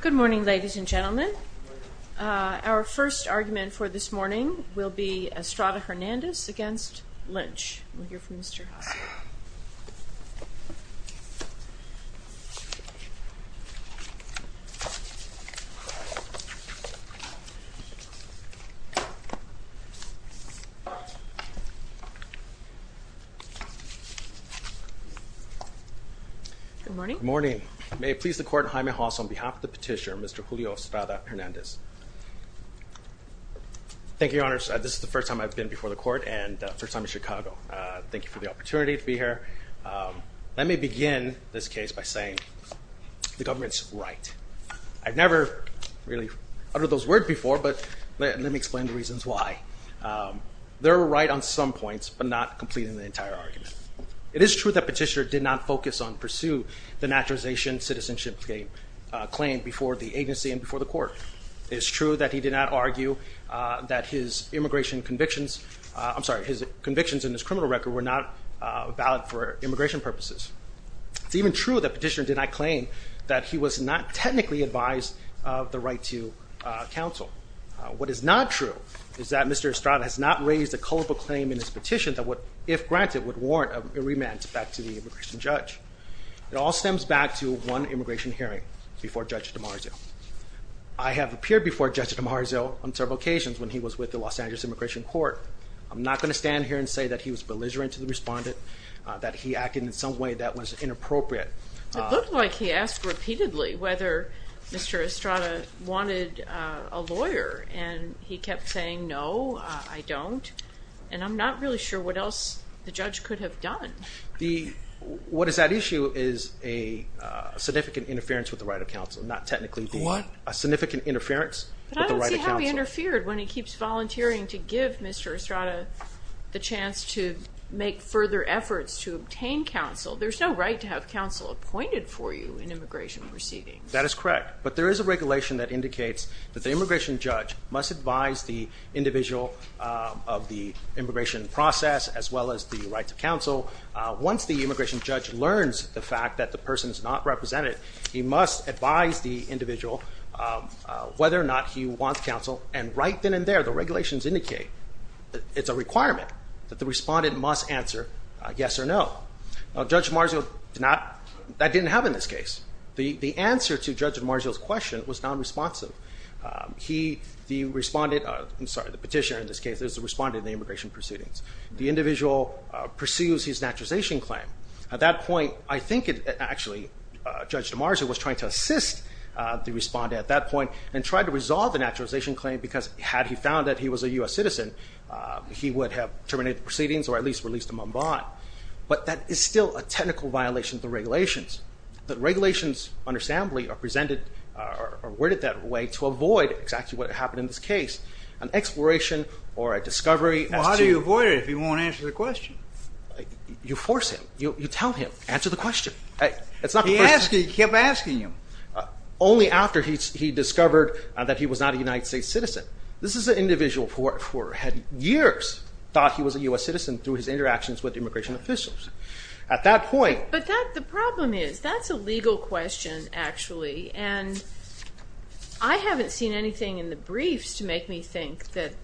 Good morning ladies and gentlemen. Our first argument for this morning will be Estrada-Hernandez against Lynch. We'll hear from Mr. Haas here. Good morning. Good morning. May it please the Court, Jaime Haas on behalf of the Petitioner, Mr. Julio Estrada-Hernandez. Thank you, Your Honours. This is the first time I've been before the Court and first time in Chicago. Thank you for the opportunity to be here. Let me begin this case by saying the government's right. I've never really uttered those words before, but let me explain the reasons why. They're right on some points, but not completely in the entire argument. It is true that Petitioner did not focus on pursue the naturalization citizenship claim before the agency and before the Court. It is true that he did not argue that his immigration convictions – I'm sorry, his convictions in his criminal record were not valid for immigration purposes. It's even true that Petitioner did not claim that he was not technically advised of the right to counsel. What is not true is that Mr. Estrada has not raised a culpable claim in his petition that would, if granted, would warrant a remand back to the immigration judge. It all stems back to one immigration hearing before Judge DiMarzio. I have appeared before Judge DiMarzio on several occasions when he was with the Los Angeles Immigration Court. I'm not going to stand here and say that he was belligerent to the respondent, that he acted in some way that was inappropriate. It looked like he asked repeatedly whether Mr. Estrada wanted a lawyer, and he kept saying no, I don't, and I'm not really sure what else the judge could have done. What is at issue is a significant interference with the right of counsel, not technically the – What? A significant interference with the right of counsel. But he can't be interfered when he keeps volunteering to give Mr. Estrada the chance to make further efforts to obtain counsel. There's no right to have counsel appointed for you in immigration proceedings. That is correct, but there is a regulation that indicates that the immigration judge must advise the individual of the immigration process as well as the right to counsel. Once the immigration judge learns the fact that the person is not represented, he must advise the individual whether or not he wants counsel, and right then and there, the regulations indicate that it's a requirement that the respondent must answer yes or no. Judge DiMarzio did not – that didn't happen in this case. The answer to Judge DiMarzio's question was non-responsive. He, the respondent – I'm sorry, the petitioner in this case is the respondent in the immigration proceedings. The individual pursues his naturalization claim. At that point, I think it actually – Judge DiMarzio was trying to assist the respondent at that point and tried to resolve the naturalization claim because had he found that he was a U.S. citizen, he would have terminated the proceedings or at least released him on bond. But that is still a technical violation of the regulations. The regulations understandably are presented or worded that way to avoid exactly what happened in this case, an exploration or a discovery as to – Well, how do you avoid it if he won't answer the question? You force him. You tell him, answer the question. It's not the first – He kept asking him. Only after he discovered that he was not a United States citizen. This is an individual who had years thought he was a U.S. citizen through his interactions with immigration officials. At that point – But that – the problem is that's a legal question, actually, and I haven't seen anything in the briefs to make me think that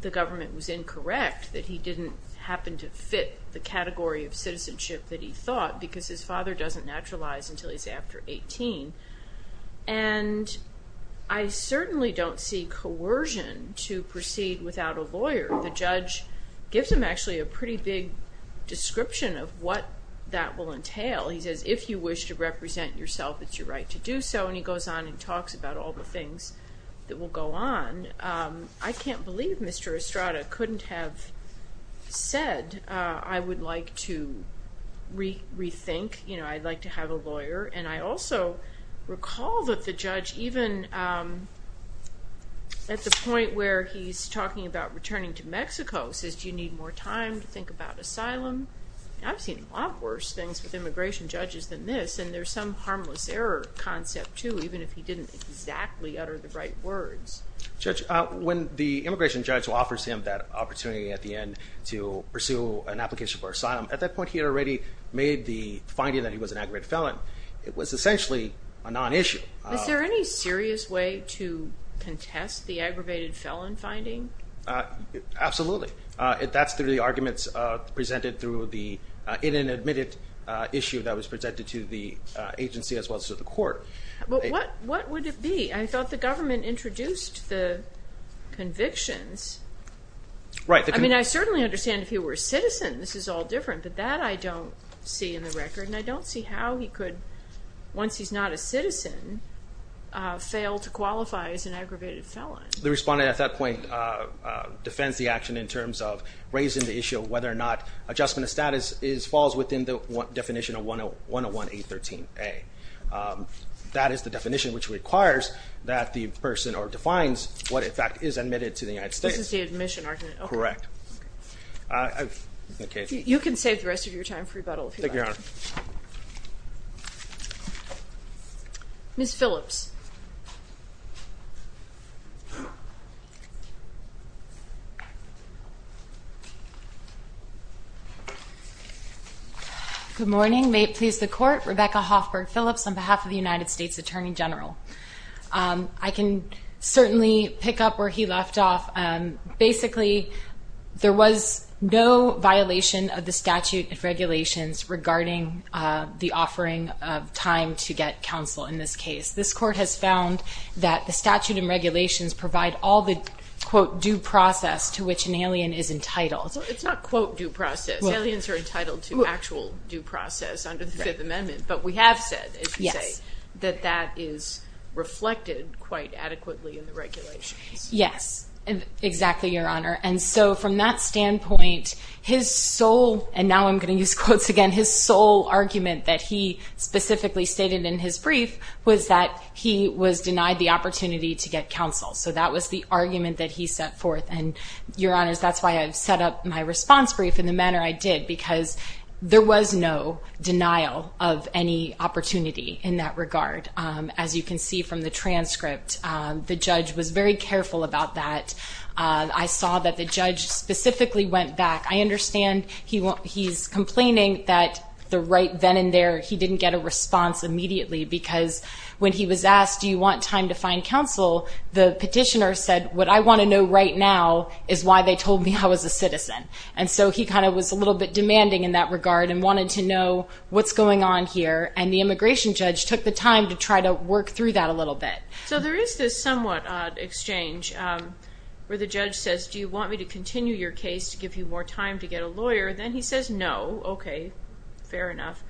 the government was incorrect, that he didn't happen to fit the category of citizenship that he thought because his father doesn't naturalize until he's after 18. And I certainly don't see coercion to proceed without a lawyer. The judge gives him actually a pretty big description of what that will entail. He says, if you wish to represent yourself, it's your right to do so. And he goes on and talks about all the things that will go on. I can't believe Mr. Estrada couldn't have said, I would like to rethink, you know, I'd like to have a lawyer. And I also recall that the judge, even at the point where he's talking about returning to Mexico, says, do you need more time to think about asylum? I've seen a lot worse things with immigration judges than this, and there's some harmless error concept, too, even if he didn't exactly utter the right words. Judge, when the immigration judge offers him that opportunity at the end to pursue an application for asylum, at that point he had already made the finding that he was an aggravated felon. It was essentially a non-issue. Is there any serious way to contest the aggravated felon finding? Absolutely. That's through the arguments presented through the inadmitted issue that was presented to the agency as well as to the court. But what would it be? I thought the government introduced the convictions. Right. I mean, I certainly understand if he were a citizen, this is all different, but that I don't see in the record, and I don't see how he could, once he's not a citizen, fail to qualify as an aggravated felon. The respondent at that point defends the action in terms of raising the issue of whether or not adjustment of status falls within the definition of 101-813-A. That is the definition which requires that the person or defines what, in fact, is admitted to the United States. This is the admission argument. Correct. You can save the rest of your time for rebuttal if you'd like. Thank you, Your Honor. Ms. Phillips. Good morning. May it please the Court, Rebecca Hoffberg Phillips on behalf of the United States Attorney General. I can certainly pick up where he left off. Basically, there was no violation of statute of regulations regarding the offering of time to get counsel in this case. This Court has found that the statute and regulations provide all the, quote, due process to which an alien is entitled. It's not, quote, due process. Aliens are entitled to actual due process under the Fifth Amendment, but we have said, as you say, that that is reflected quite adequately in the regulations. Yes, exactly, Your Honor. From that standpoint, his sole, and now I'm going to use quotes again, his sole argument that he specifically stated in his brief was that he was denied the opportunity to get counsel. That was the argument that he set forth. Your Honors, that's why I've set up my response brief in the manner I did because there was no denial of any opportunity in that that. I saw that the judge specifically went back. I understand he's complaining that the right then and there, he didn't get a response immediately because when he was asked, do you want time to find counsel? The petitioner said, what I want to know right now is why they told me I was a citizen. And so he kind of was a little bit demanding in that regard and wanted to know what's going on here. And the immigration judge took the time to try to work through that a little bit. So there is this somewhat odd exchange where the judge says, do you want me to continue your case to give you more time to get a lawyer? Then he says, no. Okay, fair enough.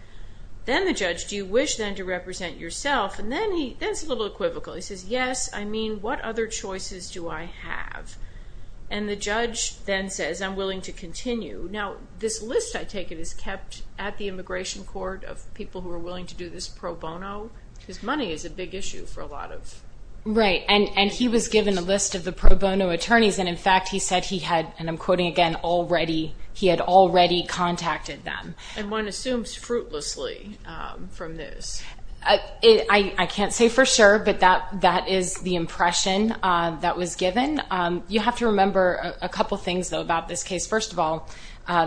Then the judge, do you wish then to represent yourself? And then he, that's a little equivocal. He says, yes, I mean, what other choices do I have? And the judge then says, I'm willing to continue. Now, this list I take it is kept at the immigration court of people who are willing to do this pro bono because money is a big issue for a lot of- Right. And he was given a list of the pro bono attorneys. And in fact, he said he had, and I'm quoting again, already, he had already contacted them. And one assumes fruitlessly from this. I can't say for sure, but that is the impression that was given. You have to remember a couple of things though about this case. First of all,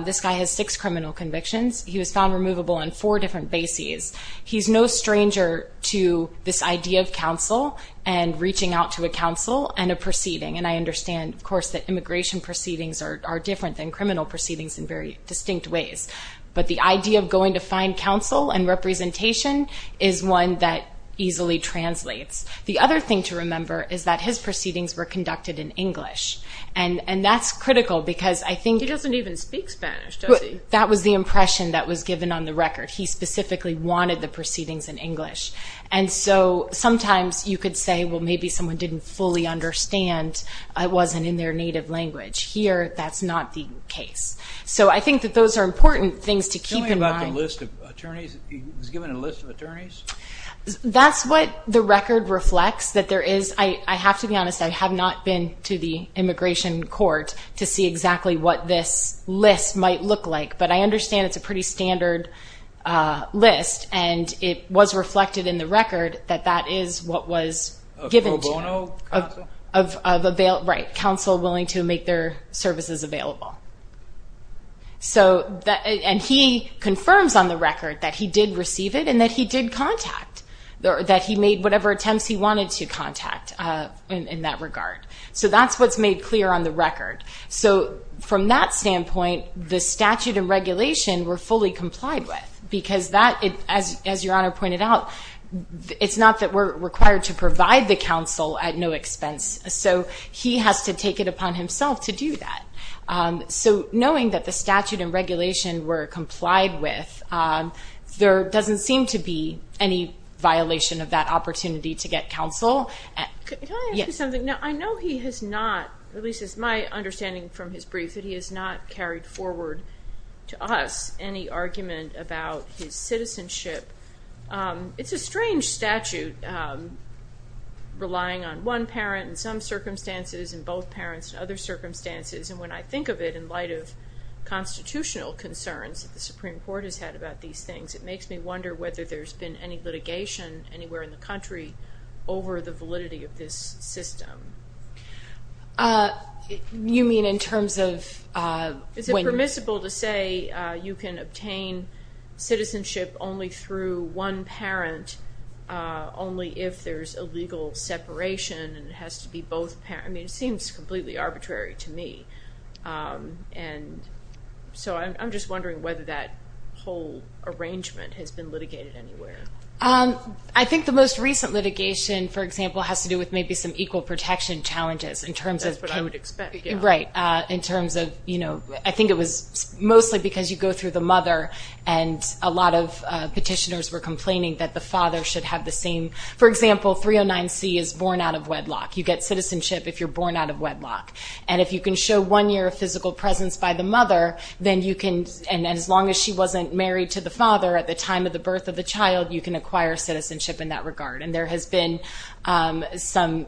this guy has six criminal convictions. He was found removable on four different bases. He's no stranger to this idea of counsel and reaching out to a counsel and a proceeding. And I understand of course, that immigration proceedings are different than criminal proceedings in very distinct ways. But the idea of going to find counsel and representation is one that easily translates. The other thing to remember is that his proceedings were conducted in English. And that's critical because I think- He doesn't even speak Spanish, does he? That was the impression that was given on the record. He specifically wanted the proceedings in English. And so sometimes you could say, well, maybe someone didn't fully understand. It wasn't in their native language. Here, that's not the case. So I think that those are important things to keep in mind. Tell me about the list of attorneys. He was given a list of attorneys? That's what the record reflects, that there is... I have to be honest, I have not been to the immigration court to see exactly what this list might look like, but I understand it's a pretty standard list. And it was reflected in the record that that is what was given to him. A pro bono counsel? Right. Counsel willing to make their services available. And he confirms on the record that he did receive it and that he did contact, that he made whatever attempts he wanted to contact in that regard. So that's what's made clear on the record. So from that standpoint, the statute and regulation were fully complied with because that, as your honor pointed out, it's not that we're required to provide the counsel at no expense. So he has to take it upon himself to do that. So knowing that the statute and regulation were complied with, there doesn't seem to be any violation of that opportunity to get counsel. Can I ask you something? I know he has not, at least as my understanding from his brief, that he has not carried forward to us any argument about his citizenship. It's a strange statute relying on one parent in some circumstances and both parents in other circumstances. And when I these things, it makes me wonder whether there's been any litigation anywhere in the country over the validity of this system. You mean in terms of... Is it permissible to say you can obtain citizenship only through one parent, only if there's a legal separation and it has to be both parents? It seems completely arbitrary to me. And so I'm just wondering whether that whole arrangement has been litigated anywhere. I think the most recent litigation, for example, has to do with maybe some equal protection challenges in terms of... That's what I would expect. Right. In terms of, I think it was mostly because you go through the mother and a lot of petitioners were complaining that the father should have the same... For example, 309C is born out of wedlock. You get citizenship if you're born out of wedlock. And if you can show one year of physical presence by the mother, then you can... And as long as she wasn't married to the father at the time of the birth of the child, you can acquire citizenship in that regard. And there has been some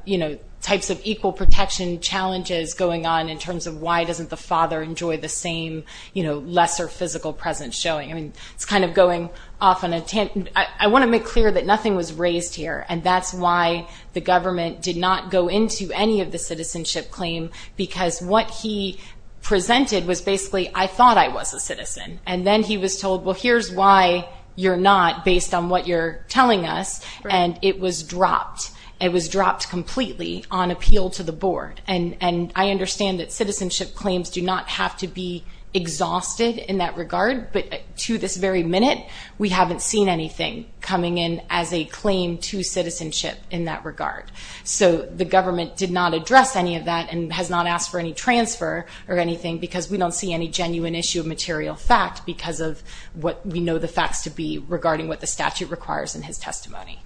types of equal protection challenges going on in terms of why doesn't the father enjoy the same lesser physical presence showing. It's kind of going off on a tangent. I want to make clear that nothing was raised here. And that's why the government did not go into any of the citizenship claim, because what he presented was basically, I thought I was a citizen. And then he was told, well, here's why you're not based on what you're telling us. And it was dropped. It was dropped completely on appeal to the board. And I understand that citizenship claims do not have to be exhausted in that regard. But to this very minute, we haven't seen anything coming in as a claim to citizenship in that regard. So the government did not address any of that and has not asked for any transfer or anything because we don't see any genuine issue of material fact because of what we know the facts to be regarding what the statute requires in his testimony.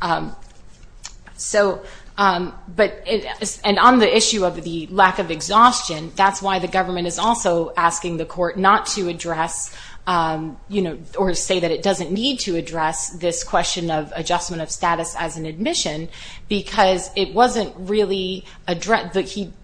And on the issue of the lack of exhaustion, that's why the government is asking the court not to address or say that it doesn't need to address this question of adjustment of status as an admission because it wasn't really addressed.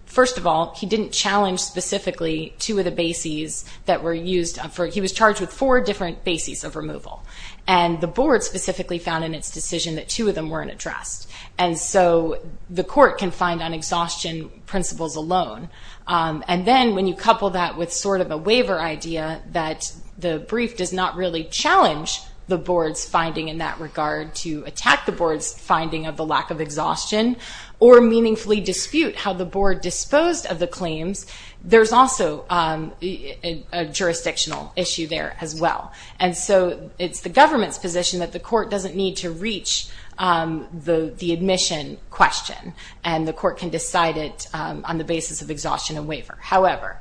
First of all, he didn't challenge specifically two of the bases that were used. He was charged with four different bases of removal. And the board specifically found in its decision that two of them weren't addressed. And so the court can find on exhaustion principles alone. And then when you couple that with sort of a waiver idea that the brief does not really challenge the board's finding in that regard to attack the board's finding of the lack of exhaustion or meaningfully dispute how the board disposed of the claims, there's also a jurisdictional issue there as well. And so it's the government's position that the court doesn't need to reach the admission question and the court can decide it on the basis of exhaustion and waiver. However,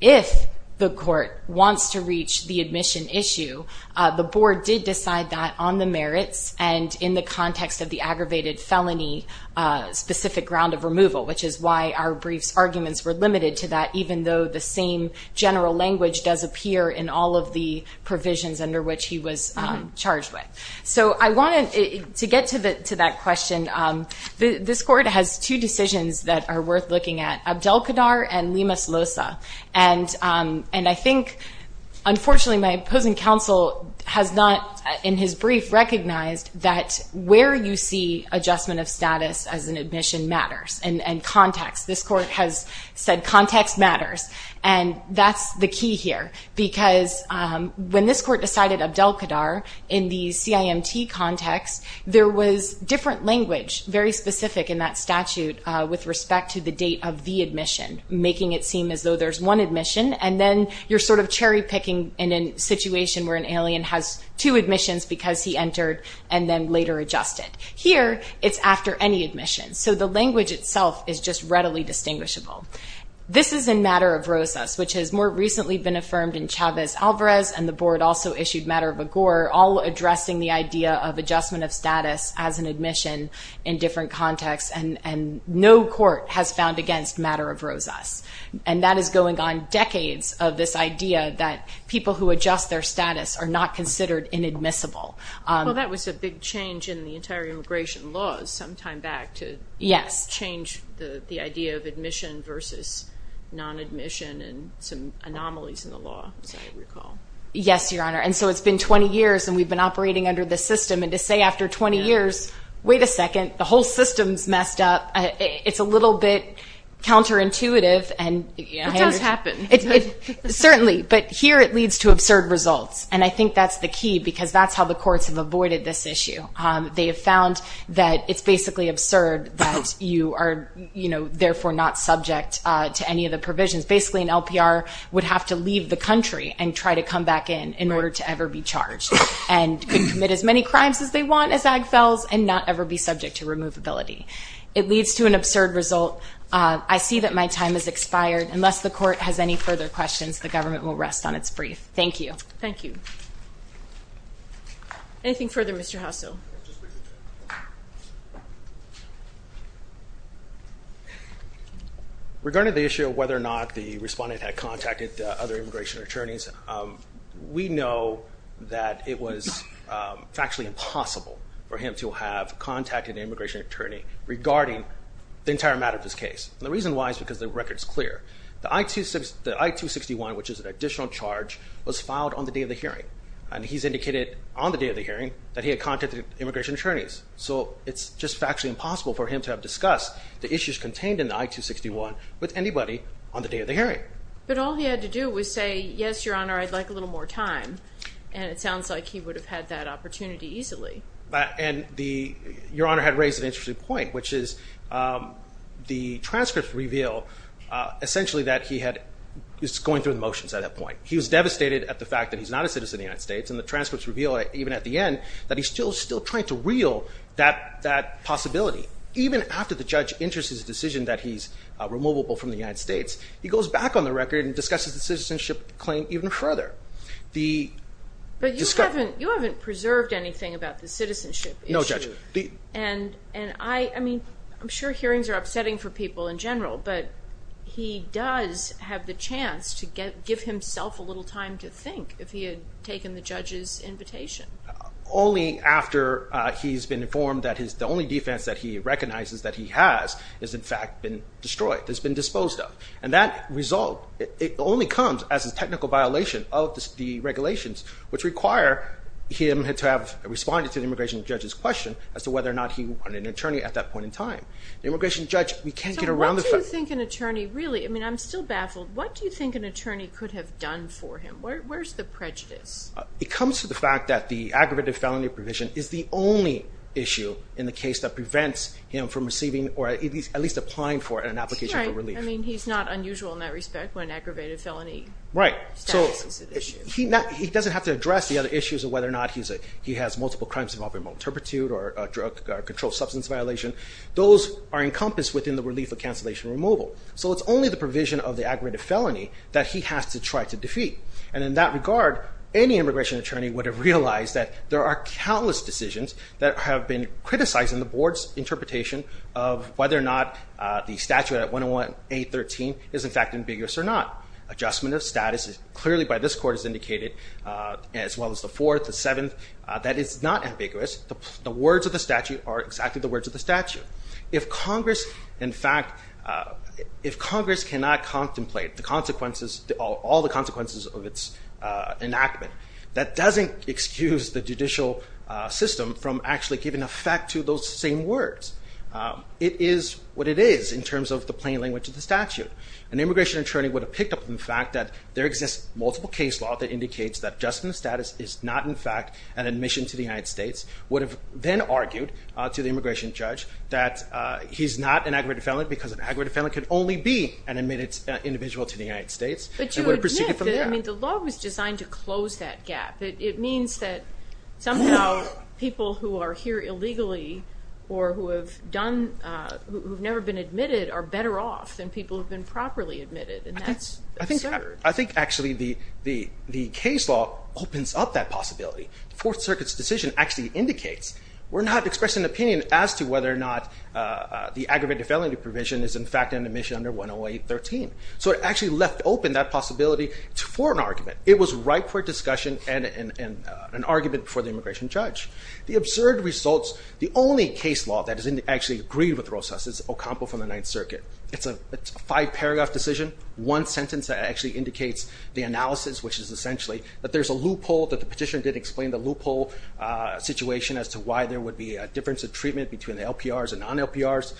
if the court wants to reach the admission issue, the board did decide that on the merits and in the context of the aggravated felony specific ground of removal, which is why our brief's arguments were limited to that even though the same general language does appear in all of the provisions under which he was charged with. So I wanted to get to that question. This court has two decisions that are worth looking at, Abdelkader and Lima-Slosa. And I think, unfortunately, my opposing counsel has not, in his brief, recognized that where you see adjustment of status as an admission matters and context. This court has said context matters. And that's the court decided Abdelkader in the CIMT context, there was different language very specific in that statute with respect to the date of the admission, making it seem as though there's one admission and then you're sort of cherry picking in a situation where an alien has two admissions because he entered and then later adjusted. Here, it's after any admission. So the language itself is just readily distinguishable. This is in matter of Rosas, which has more recently been affirmed in Chavez-Alvarez, and the board also issued matter of Agour, all addressing the idea of adjustment of status as an admission in different contexts. And no court has found against matter of Rosas. And that is going on decades of this idea that people who adjust their status are not considered inadmissible. Well, that was a big change in the entire immigration laws some time back to change the idea of admission versus non-admission and some anomalies in the law, as I recall. Yes, Your Honor. And so it's been 20 years and we've been operating under this system and to say after 20 years, wait a second, the whole system's messed up. It's a little bit counterintuitive. It does happen. Certainly, but here it leads to absurd results. And I think that's the key because that's how the courts have avoided this issue. They have found that it's basically absurd that you are, you know, therefore not subject to any of the provisions. Basically, an LPR would have to leave the country and try to come back in in order to ever be charged and commit as many crimes as they want as AGFELs and not ever be subject to removability. It leads to an absurd result. I see that my time has expired. Unless the court has any further questions, the government will rest on its brief. Thank you. Thank you. Anything further, Mr. Hasso? Regarding the issue of whether or not the respondent had contacted other immigration attorneys, we know that it was factually impossible for him to have contacted an immigration attorney regarding the entire matter of this case. And the reason why is because the record is clear. The I-261, which is an additional charge, was filed on the day of the hearing. And he's indicated on the day of the hearing that he had contacted immigration attorneys. So it's just factually impossible for him to have discussed the issues contained in the I-261 with anybody on the day of the hearing. But all he had to do was say, yes, Your Honor, I'd like a little more time. And it sounds like he would have had that opportunity easily. And Your Honor had raised an interesting point, which is the transcripts reveal essentially that he was going through the motions at that point. He was devastated at the fact that he's not a citizen of the United States. And the transcripts reveal, even at the end, that he's still trying to reel that possibility. Even after the judge enters his decision that he's removable from the United States, he goes back on the record and discusses the citizenship claim even further. But you haven't preserved anything about the citizenship issue. No, Judge. I mean, I'm sure hearings are upsetting for people in general, but he does have the chance to give himself a little time to think if he had taken the judge's invitation. Only after he's been informed that the only defense that he recognizes that he has is in fact been destroyed, has been disposed of. And that result, it only comes as a immigration judge's question as to whether or not he wanted an attorney at that point in time. The immigration judge, we can't get around the fact... So what do you think an attorney really... I mean, I'm still baffled. What do you think an attorney could have done for him? Where's the prejudice? It comes to the fact that the aggravated felony provision is the only issue in the case that prevents him from receiving or at least applying for an application for relief. I mean, he's not unusual in that respect when aggravated felony status is at issue. Right. So he doesn't have to address the other issues of whether or not he has multiple crimes involving maltreatment or a controlled substance violation. Those are encompassed within the relief of cancellation removal. So it's only the provision of the aggravated felony that he has to try to defeat. And in that regard, any immigration attorney would have realized that there are countless decisions that have been criticized in the board's interpretation of whether or not the statute at 101-813 is in fact ambiguous or not. Adjustment of status is clearly by this as well as the fourth, the seventh. That is not ambiguous. The words of the statute are exactly the words of the statute. If Congress, in fact, if Congress cannot contemplate the consequences, all the consequences of its enactment, that doesn't excuse the judicial system from actually giving effect to those same words. It is what it is in terms of the plain language of the statute. An immigration attorney would have picked up on the fact that there exists multiple case law that that adjustment of status is not in fact an admission to the United States, would have then argued to the immigration judge that he's not an aggravated felon because an aggravated felon could only be an admitted individual to the United States. But you admit that the law was designed to close that gap. It means that somehow people who are here illegally or who have never been admitted are better off than people who've been properly admitted. And that's absurd. I think actually the case law opens up that possibility. The Fourth Circuit's decision actually indicates we're not expressing an opinion as to whether or not the aggravated felony provision is in fact an admission under 108.13. So it actually left open that possibility for an argument. It was right for discussion and an argument for the immigration judge. The absurd results, the only case law that is actually agreed with Rosas is Ocampo from the analysis, which is essentially that there's a loophole, that the petitioner did explain the loophole situation as to why there would be a difference of treatment between the LPRs and non-LPRs.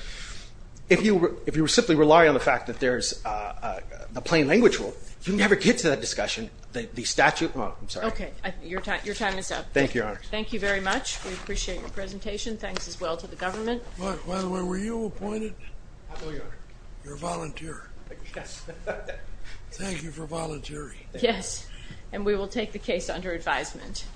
If you simply rely on the fact that there's a plain language rule, you never get to that discussion. The statute, I'm sorry. Okay, your time is up. Thank you, Your Honor. Thank you very much. We appreciate your presentation. Thanks as well to the government. By the way, were you appointed? I know you are. You're a volunteer. Yes. Thank you for volunteering. Yes, and we will take the case under advisement.